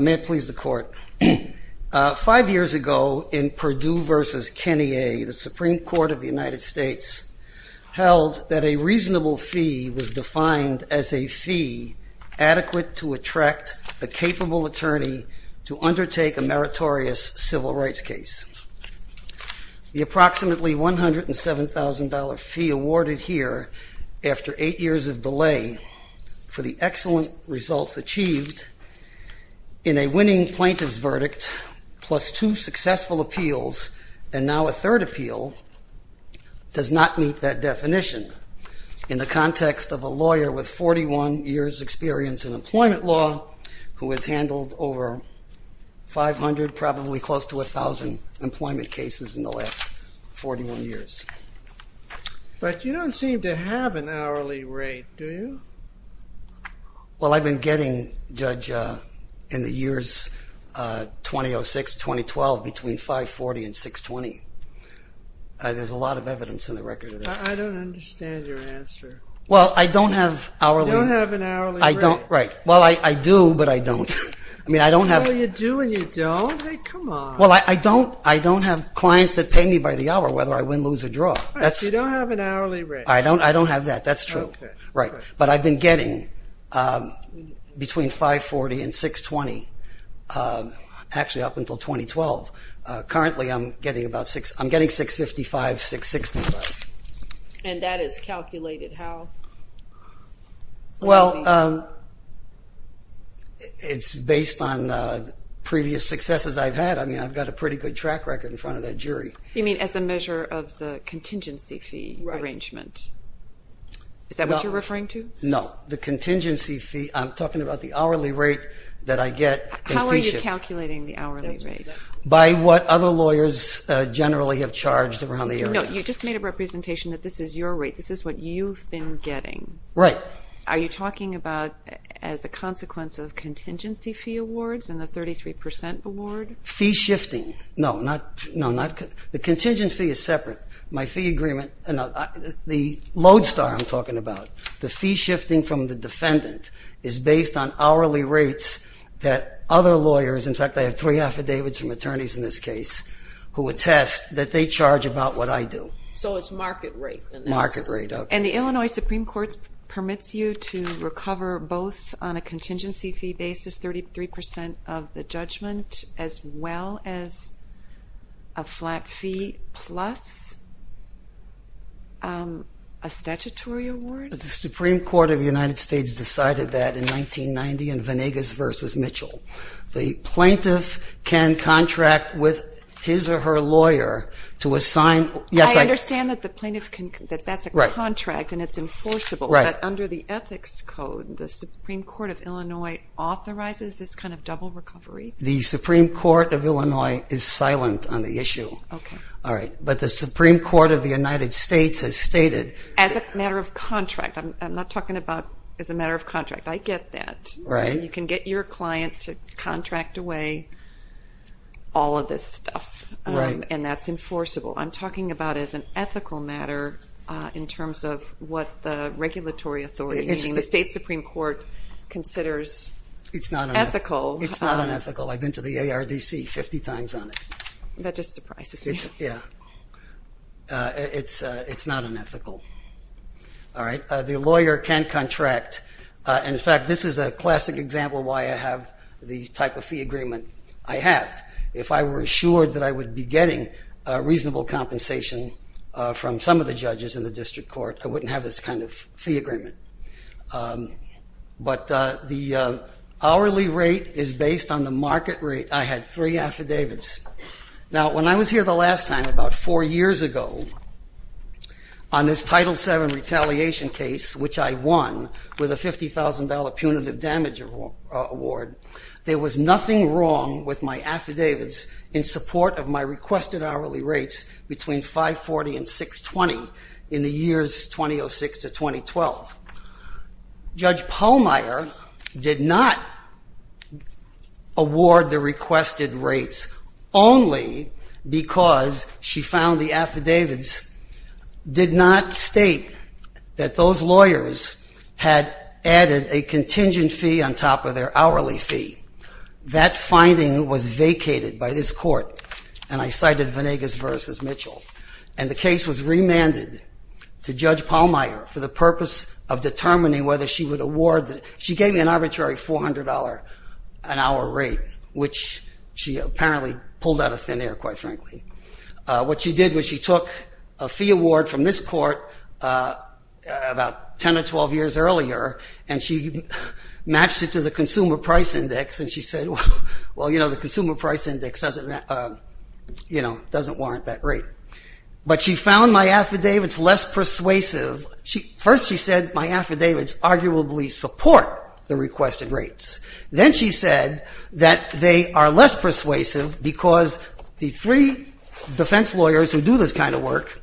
May it please the Court. Five years ago, in Perdue v. Kenney A., the Supreme Court of the United States held that a reasonable fee was defined as a fee adequate to attract a capable attorney to undertake a meritorious civil rights case. The approximately $107,000 fee awarded here after eight years of delay for the excellent results achieved in a winning plaintiff's verdict plus two successful appeals and now a third appeal does not meet that definition. In the context of a lawyer with 41 years experience in employment law who has handled over 500, probably close to 1,000, employment cases in the last 41 years. But you don't seem to have an hourly rate, do you? Well, I've been getting, Judge, in the years 2006-2012 between 540 and 620. There's a lot of evidence in the record of that. I don't understand your answer. Well, I don't have hourly. You don't have an hourly rate. Well, I do, but I don't. Well, you do and you don't? Come on. Well, I don't have clients that pay me by the hour whether I win, lose, or draw. You don't have an hourly rate. I don't have that. That's true. But I've been getting between 540 and 620, actually up until 2012. Currently, I'm getting about 655, 665. And that is calculated how? Well, it's based on previous successes I've had. I mean, I've got a pretty good track record in front of that jury. You mean as a measure of the contingency fee arrangement? Is that what you're referring to? No. The contingency fee, I'm talking about the hourly rate that I get. How are you calculating the hourly rate? By what other lawyers generally have charged around the area. No, you just made a representation that this is your rate. This is what you've been getting. Right. Are you talking about as a consequence of contingency fee awards and the 33% award? Fee shifting. No, the contingency fee is separate. My fee agreement, the lodestar I'm talking about, the fee shifting from the defendant is based on hourly rates that other lawyers, in fact, I have three affidavits from attorneys in this case, who attest that they charge about what I do. So it's market rate. Market rate, okay. And the Illinois Supreme Court permits you to recover both on a contingency fee basis, 33% of the judgment, as well as a flat fee plus a statutory award? The Supreme Court of the United States decided that in 1990 in Venegas v. Mitchell. The plaintiff can contract with his or her lawyer to assign. I understand that that's a contract and it's enforceable. Right. But under the ethics code, the Supreme Court of Illinois authorizes this kind of double recovery? The Supreme Court of Illinois is silent on the issue. Okay. All right, but the Supreme Court of the United States has stated. As a matter of contract. I'm not talking about as a matter of contract. I get that. Right. You can get your client to contract away all of this stuff. Right. And that's enforceable. I'm talking about as an ethical matter in terms of what the regulatory authority, meaning the state Supreme Court, considers ethical. It's not unethical. It's not unethical. I've been to the ARDC 50 times on it. That just surprises me. Yeah. It's not unethical. All right. The lawyer can contract. And, in fact, this is a classic example of why I have the type of fee agreement I have. If I were assured that I would be getting reasonable compensation from some of the judges in the district court, I wouldn't have this kind of fee agreement. But the hourly rate is based on the market rate. I had three affidavits. Now, when I was here the last time, about four years ago, on this Title VII retaliation case, which I won with a $50,000 punitive damage award, there was nothing wrong with my affidavits in support of my requested hourly rates between 540 and 620 in the years 2006 to 2012. Judge Pallmeyer did not award the requested rates only because she found the affidavits. The affidavits did not state that those lawyers had added a contingent fee on top of their hourly fee. That finding was vacated by this court. And I cited Venegas v. Mitchell. And the case was remanded to Judge Pallmeyer for the purpose of determining whether she would award. She gave me an arbitrary $400 an hour rate, which she apparently pulled out of thin air, quite frankly. What she did was she took a fee award from this court about 10 or 12 years earlier, and she matched it to the Consumer Price Index, and she said, well, you know, the Consumer Price Index doesn't warrant that rate. But she found my affidavits less persuasive. First she said my affidavits arguably support the requested rates. Then she said that they are less persuasive because the three defense lawyers who do this kind of work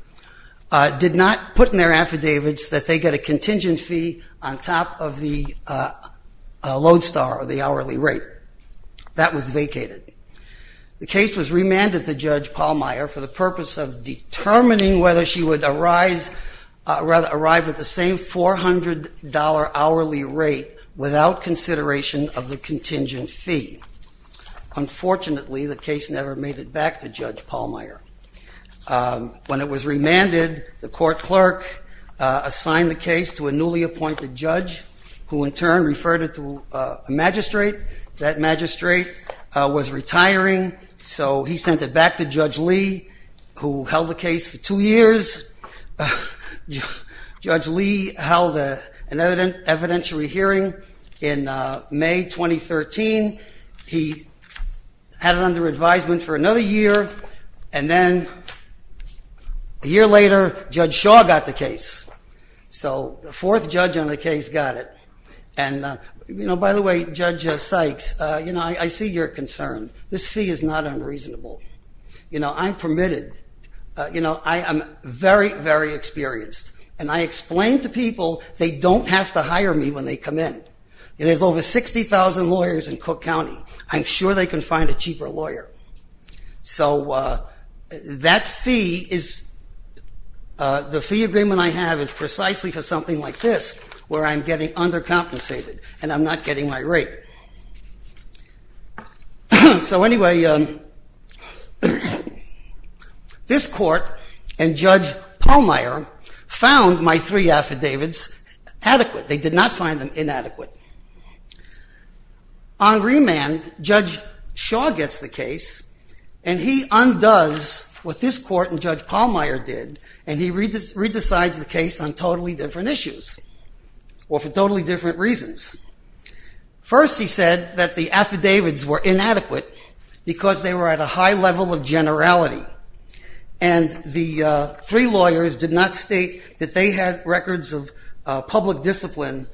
did not put in their affidavits that they get a contingent fee on top of the load star or the hourly rate. That was vacated. The case was remanded to Judge Pallmeyer for the purpose of determining whether she would arrive at the same $400 hourly rate without consideration of the contingent fee. Unfortunately, the case never made it back to Judge Pallmeyer. When it was remanded, the court clerk assigned the case to a newly appointed judge, who in turn referred it to a magistrate. That magistrate was retiring, so he sent it back to Judge Lee, who held the case for two years. Judge Lee held an evidentiary hearing in May 2013. He had it under advisement for another year, and then a year later Judge Shaw got the case. So the fourth judge on the case got it. And, you know, by the way, Judge Sykes, you know, I see your concern. This fee is not unreasonable. You know, I'm permitted. You know, I am very, very experienced. And I explain to people they don't have to hire me when they come in. There's over 60,000 lawyers in Cook County. I'm sure they can find a cheaper lawyer. So that fee is the fee agreement I have is precisely for something like this, where I'm getting undercompensated and I'm not getting my rate. So anyway, this court and Judge Pallmeyer found my three affidavits adequate. They did not find them inadequate. On remand, Judge Shaw gets the case, and he undoes what this court and Judge Pallmeyer did, and he re-decides the case on totally different issues or for totally different reasons. First, he said that the affidavits were inadequate because they were at a high level of generality. And the three lawyers did not state that they had records of public discipline,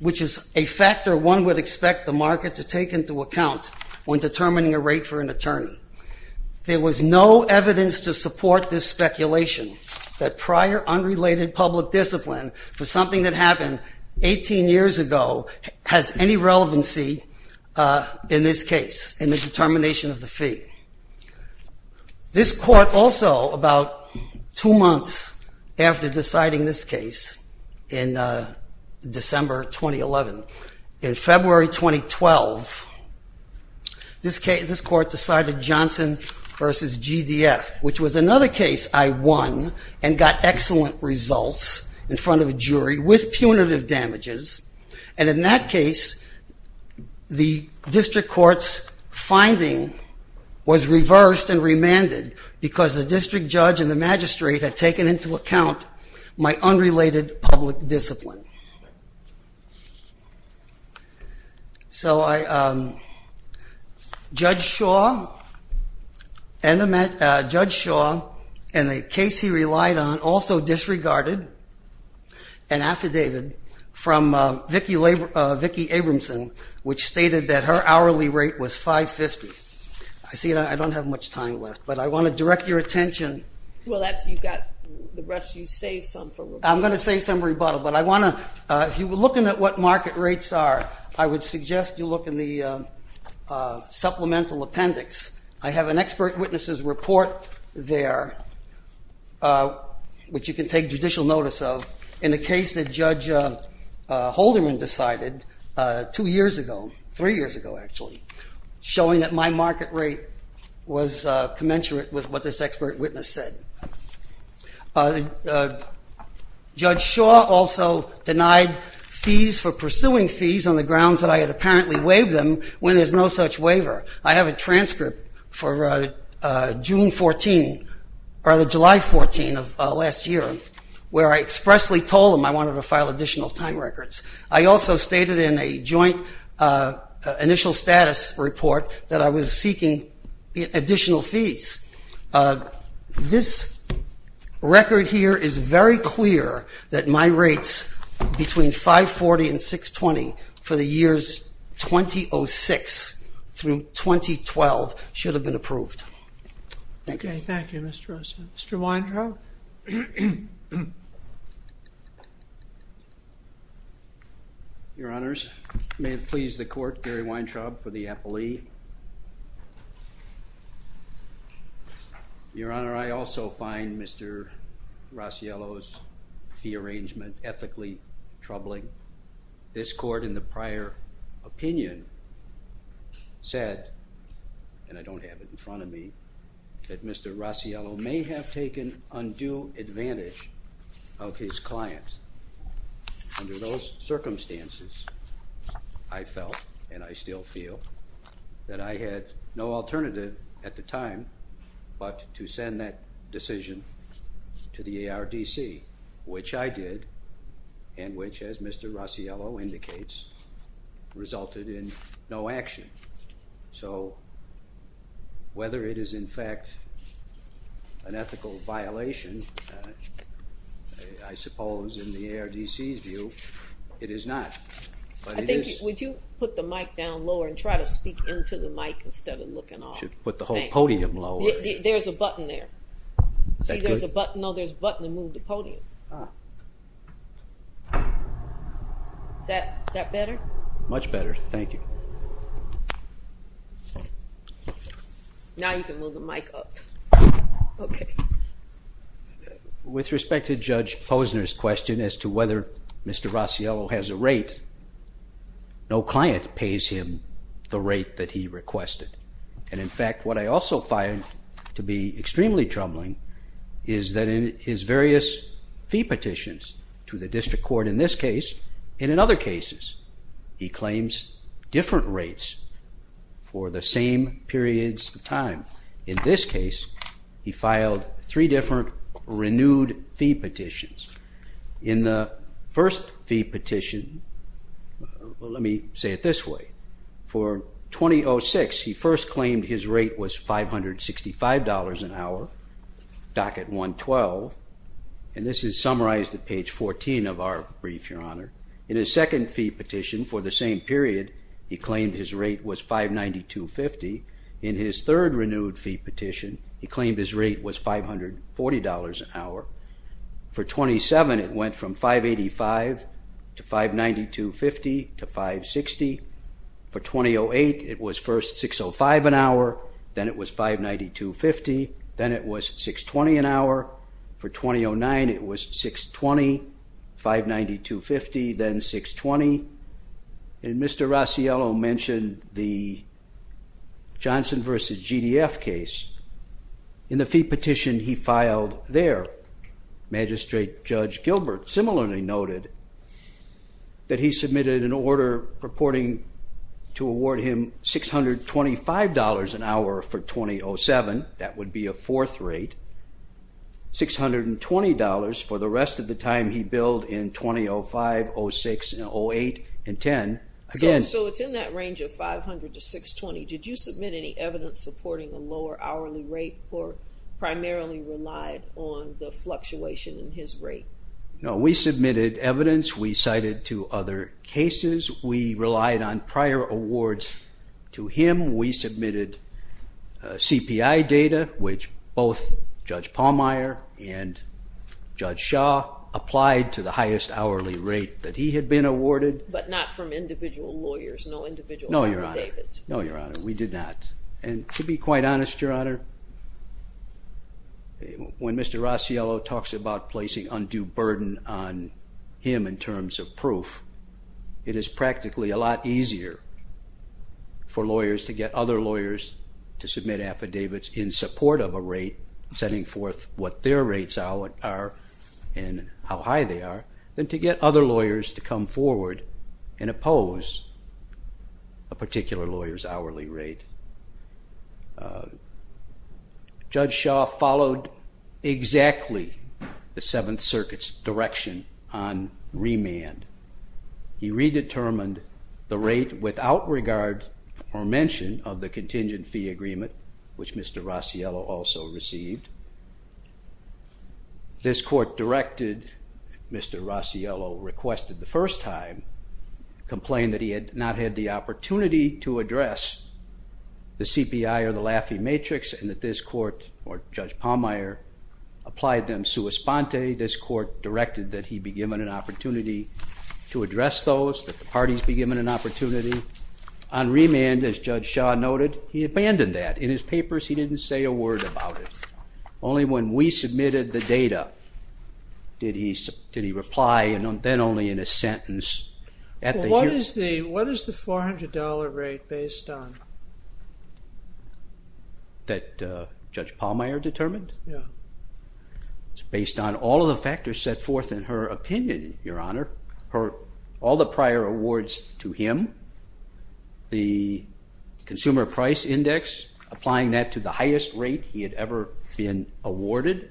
which is a factor one would expect the market to take into account when determining a rate for an attorney. There was no evidence to support this speculation that prior unrelated public discipline for something that happened 18 years ago has any relevancy in this case, in the determination of the fee. This court also, about two months after deciding this case in December 2011, in February 2012, this court decided Johnson v. GDF, which was another case I won and got excellent results in front of a jury with punitive damages. And in that case, the district court's finding was reversed and remanded because the district judge and the magistrate had taken into account my unrelated public discipline. So Judge Shaw and the case he relied on also disregarded an affidavit from Vicki Abramson, which stated that her hourly rate was $5.50. I see I don't have much time left, but I want to direct your attention. Well, you've got the rest. You saved some for rebuttal. I'm going to save some for rebuttal, but if you were looking at what market rates are, I would suggest you look in the supplemental appendix. I have an expert witness's report there, which you can take judicial notice of, in the case that Judge Holderman decided two years ago, three years ago actually, showing that my market rate was commensurate with what this expert witness said. Judge Shaw also denied fees for pursuing fees on the grounds that I had apparently waived them when there's no such waiver. I have a transcript for June 14, or the July 14 of last year, where I expressly told him I wanted to file additional time records. I also stated in a joint initial status report that I was seeking additional fees. This record here is very clear that my rates between $5.40 and $6.20 for the years 2006 through 2012 should have been approved. Thank you. Thank you, Mr. Rossiello. Mr. Weintraub? Your Honors, may it please the Court, Gary Weintraub for the appellee. Your Honor, I also find Mr. Rossiello's fee arrangement ethically troubling. This Court, in the prior opinion, said, and I don't have it in front of me, that Mr. Rossiello may have taken undue advantage of his client. Under those circumstances, I felt, and I still feel, that I had no alternative at the time but to send that decision to the ARDC, which I did, and which, as Mr. Rossiello indicates, resulted in no action. So whether it is, in fact, an ethical violation, I suppose, in the ARDC's view, it is not. Would you put the mic down lower and try to speak into the mic instead of looking off? I should put the whole podium lower. There's a button there. Is that good? No, there's a button to move the podium. Is that better? Much better. Thank you. Now you can move the mic up. Okay. With respect to Judge Posner's question as to whether Mr. Rossiello has a rate, no client pays him the rate that he requested. And, in fact, what I also find to be extremely troubling is that in his various fee petitions to the district court in this case and in other cases, he claims different rates for the same periods of time. In this case, he filed three different renewed fee petitions. In the first fee petition, let me say it this way. For 2006, he first claimed his rate was $565 an hour, docket 112, and this is summarized at page 14 of our brief, Your Honor. In his second fee petition for the same period, he claimed his rate was $592.50. In his third renewed fee petition, he claimed his rate was $540 an hour. For 2007, it went from $585 to $592.50 to $560. For 2008, it was first $605 an hour, then it was $592.50, then it was $620 an hour. For 2009, it was $620, $592.50, then $620. And Mr. Rossiello mentioned the Johnson v. GDF case. In the fee petition he filed there, Magistrate Judge Gilbert similarly noted that he submitted an order purporting to award him $625 an hour for 2007. That would be a fourth rate. $620 for the rest of the time he billed in 2005, 06, and 08, and 10. So it's in that range of $500 to $620. Did you submit any evidence supporting a lower hourly rate or primarily relied on the fluctuation in his rate? No, we submitted evidence. We cited two other cases. We relied on prior awards to him. We submitted CPI data, which both Judge Pallmeyer and Judge Shaw applied to the highest hourly rate that he had been awarded. But not from individual lawyers, no individual lawyers? No, Your Honor. No, Your Honor, we did not. And to be quite honest, Your Honor, when Mr. Rossiello talks about placing undue burden on him in terms of proof, it is practically a lot easier for lawyers to get other lawyers to submit affidavits in support of a rate setting forth what their rates are and how high they are than to get other lawyers to come forward and oppose a particular lawyer's hourly rate. Judge Shaw followed exactly the Seventh Circuit's direction on remand. He redetermined the rate without regard or mention of the contingent fee agreement, which Mr. Rossiello also received. This court directed, Mr. Rossiello requested the first time, complained that he had not had the opportunity to address the CPI or the Laffey Matrix and that this court, or Judge Pallmeyer, applied them sua sponte. This court directed that he be given an opportunity to address those, that the parties be given an opportunity. On remand, as Judge Shaw noted, he abandoned that. In his papers, he didn't say a word about it. Only when we submitted the data did he reply, and then only in a sentence. What is the $400 rate based on? That Judge Pallmeyer determined? Yeah. It's based on all of the factors set forth in her opinion, Your Honor. All the prior awards to him, the Consumer Price Index, applying that to the highest rate he had ever been awarded.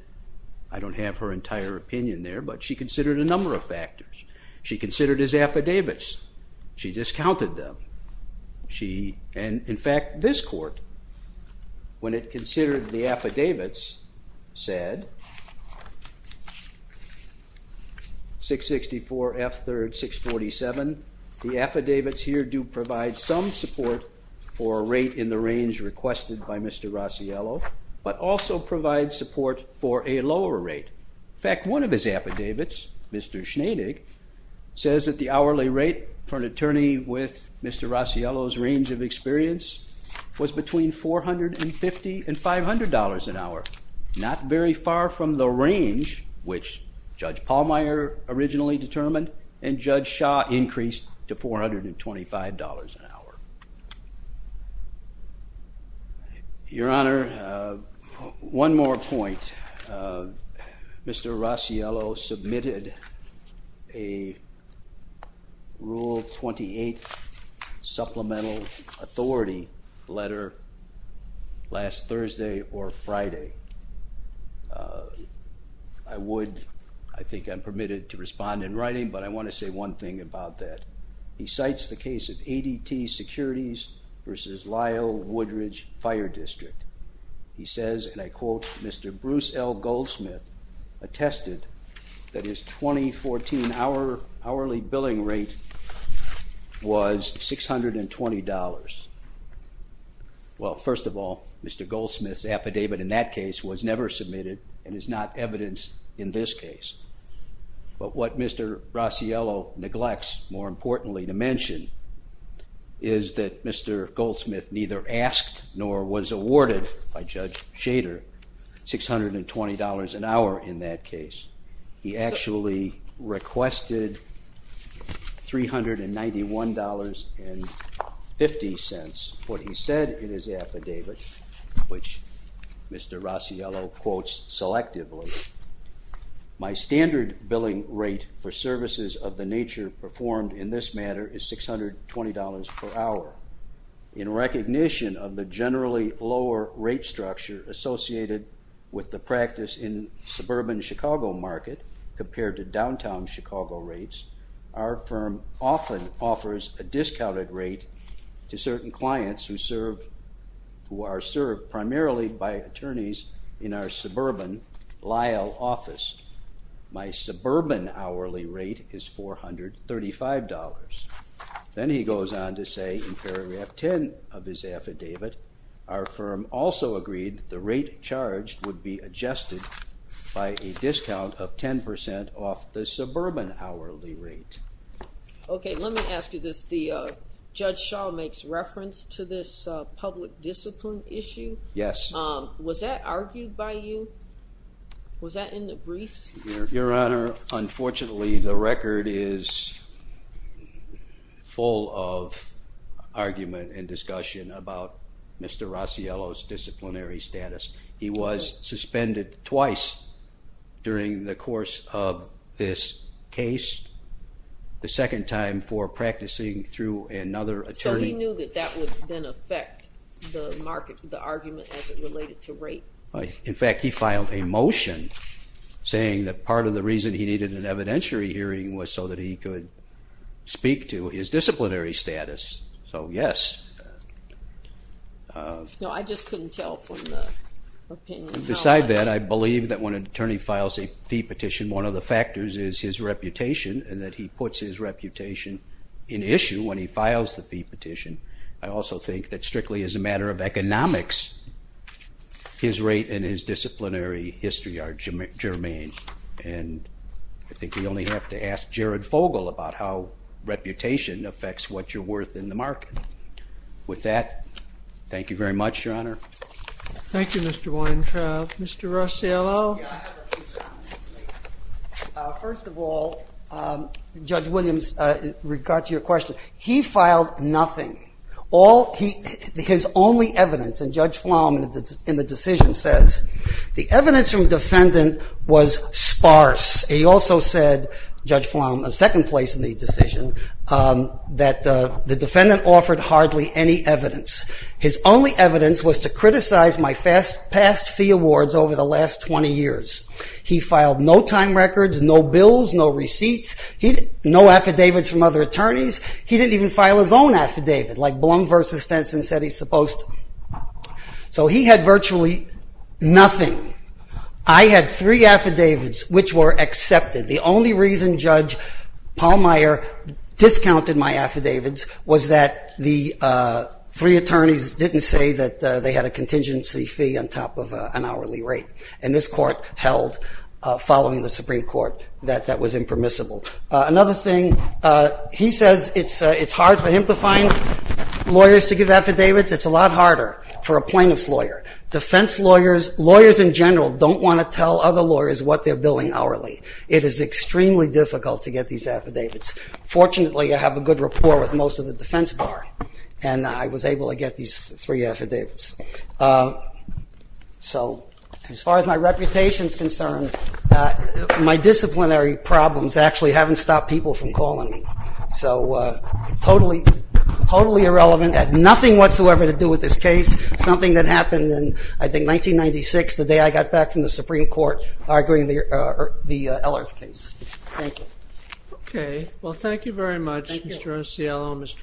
I don't have her entire opinion there, but she considered a number of factors. She considered his affidavits. She discounted them. In fact, this court, when it considered the affidavits, said, 664 F. 3rd. 647. The affidavits here do provide some support for a rate in the range requested by Mr. Rossiello, but also provide support for a lower rate. In fact, one of his affidavits, Mr. Schneidig, says that the hourly rate for an attorney with Mr. Rossiello's range of experience was between $450 and $500 an hour, not very far from the range which Judge Pallmeyer originally determined and Judge Shah increased to $425 an hour. Your Honor, one more point. Mr. Rossiello submitted a Rule 28 Supplemental Authority letter last Thursday or Friday. I think I'm permitted to respond in writing, but I want to say one thing about that. He cites the case of ADT Securities versus Lyle Woodridge Fire District. He says, and I quote, Mr. Bruce L. Goldsmith attested that his 2014 hourly billing rate was $620. Well, first of all, Mr. Goldsmith's affidavit in that case was never submitted and is not evidence in this case. But what Mr. Rossiello neglects, more importantly to mention, is that Mr. Goldsmith neither asked nor was awarded by Judge Shader $620 an hour in that case. He actually requested $391.50. What he said in his affidavit, which Mr. Rossiello quotes selectively, my standard billing rate for services of the nature performed in this matter is $620 per hour. In recognition of the generally lower rate structure associated with the practice in suburban Chicago market compared to downtown Chicago rates, our firm often offers a discounted rate to certain clients who are served primarily by attorneys in our suburban Lyle office. My suburban hourly rate is $435. Then he goes on to say in paragraph 10 of his affidavit, our firm also agreed the rate charged would be adjusted by a discount of 10% off the suburban hourly rate. Okay, let me ask you this. Judge Shaw makes reference to this public discipline issue. Yes. Was that argued by you? Was that in the brief? Your Honor, unfortunately the record is full of argument and discussion about Mr. Rossiello's disciplinary status. He was suspended twice during the course of this case, the second time for practicing through another attorney. So he knew that that would then affect the argument as it related to rate? In fact, he filed a motion saying that part of the reason he needed an evidentiary hearing was so that he could speak to his disciplinary status. So yes. No, I just couldn't tell from the opinion. Besides that, I believe that when an attorney files a fee petition, one of the factors is his reputation and that he puts his reputation in issue I also think that strictly as a matter of economics, his rate and his disciplinary history are germane and I think we only have to ask Jared Fogle about how reputation affects what you're worth in the market. With that, thank you very much, Your Honor. Thank you, Mr. Weintraub. Mr. Rossiello? First of all, Judge Williams, in regard to your question, he filed nothing. His only evidence, and Judge Flom in the decision says, the evidence from defendant was sparse. He also said, Judge Flom, a second place in the decision, that the defendant offered hardly any evidence. His only evidence was to criticize my past fee awards over the last 20 years. He filed no time records, no bills, no receipts, no affidavits from other attorneys. He didn't even file his own affidavit, like Blum v. Stenson said he's supposed to. So he had virtually nothing. I had three affidavits which were accepted. The only reason Judge Pallmeyer discounted my affidavits was that the three attorneys didn't say that they had a contingency fee on top of an hourly rate and this court held, following the Supreme Court, that that was impermissible. Another thing, he says it's hard for him to find lawyers to give affidavits. It's a lot harder for a plaintiff's lawyer. Defense lawyers, lawyers in general, don't want to tell other lawyers what they're billing hourly. It is extremely difficult to get these affidavits. Fortunately, I have a good rapport with most of the defense bar, and I was able to get these three affidavits. So as far as my reputation is concerned, my disciplinary problems actually haven't stopped people from calling me. So totally irrelevant, had nothing whatsoever to do with this case. Something that happened in, I think, 1996, the day I got back from the Supreme Court, arguing the Ellerth case. Thank you. OK. Well, thank you very much, Mr. Ocielo and Mr. Pallmeyer.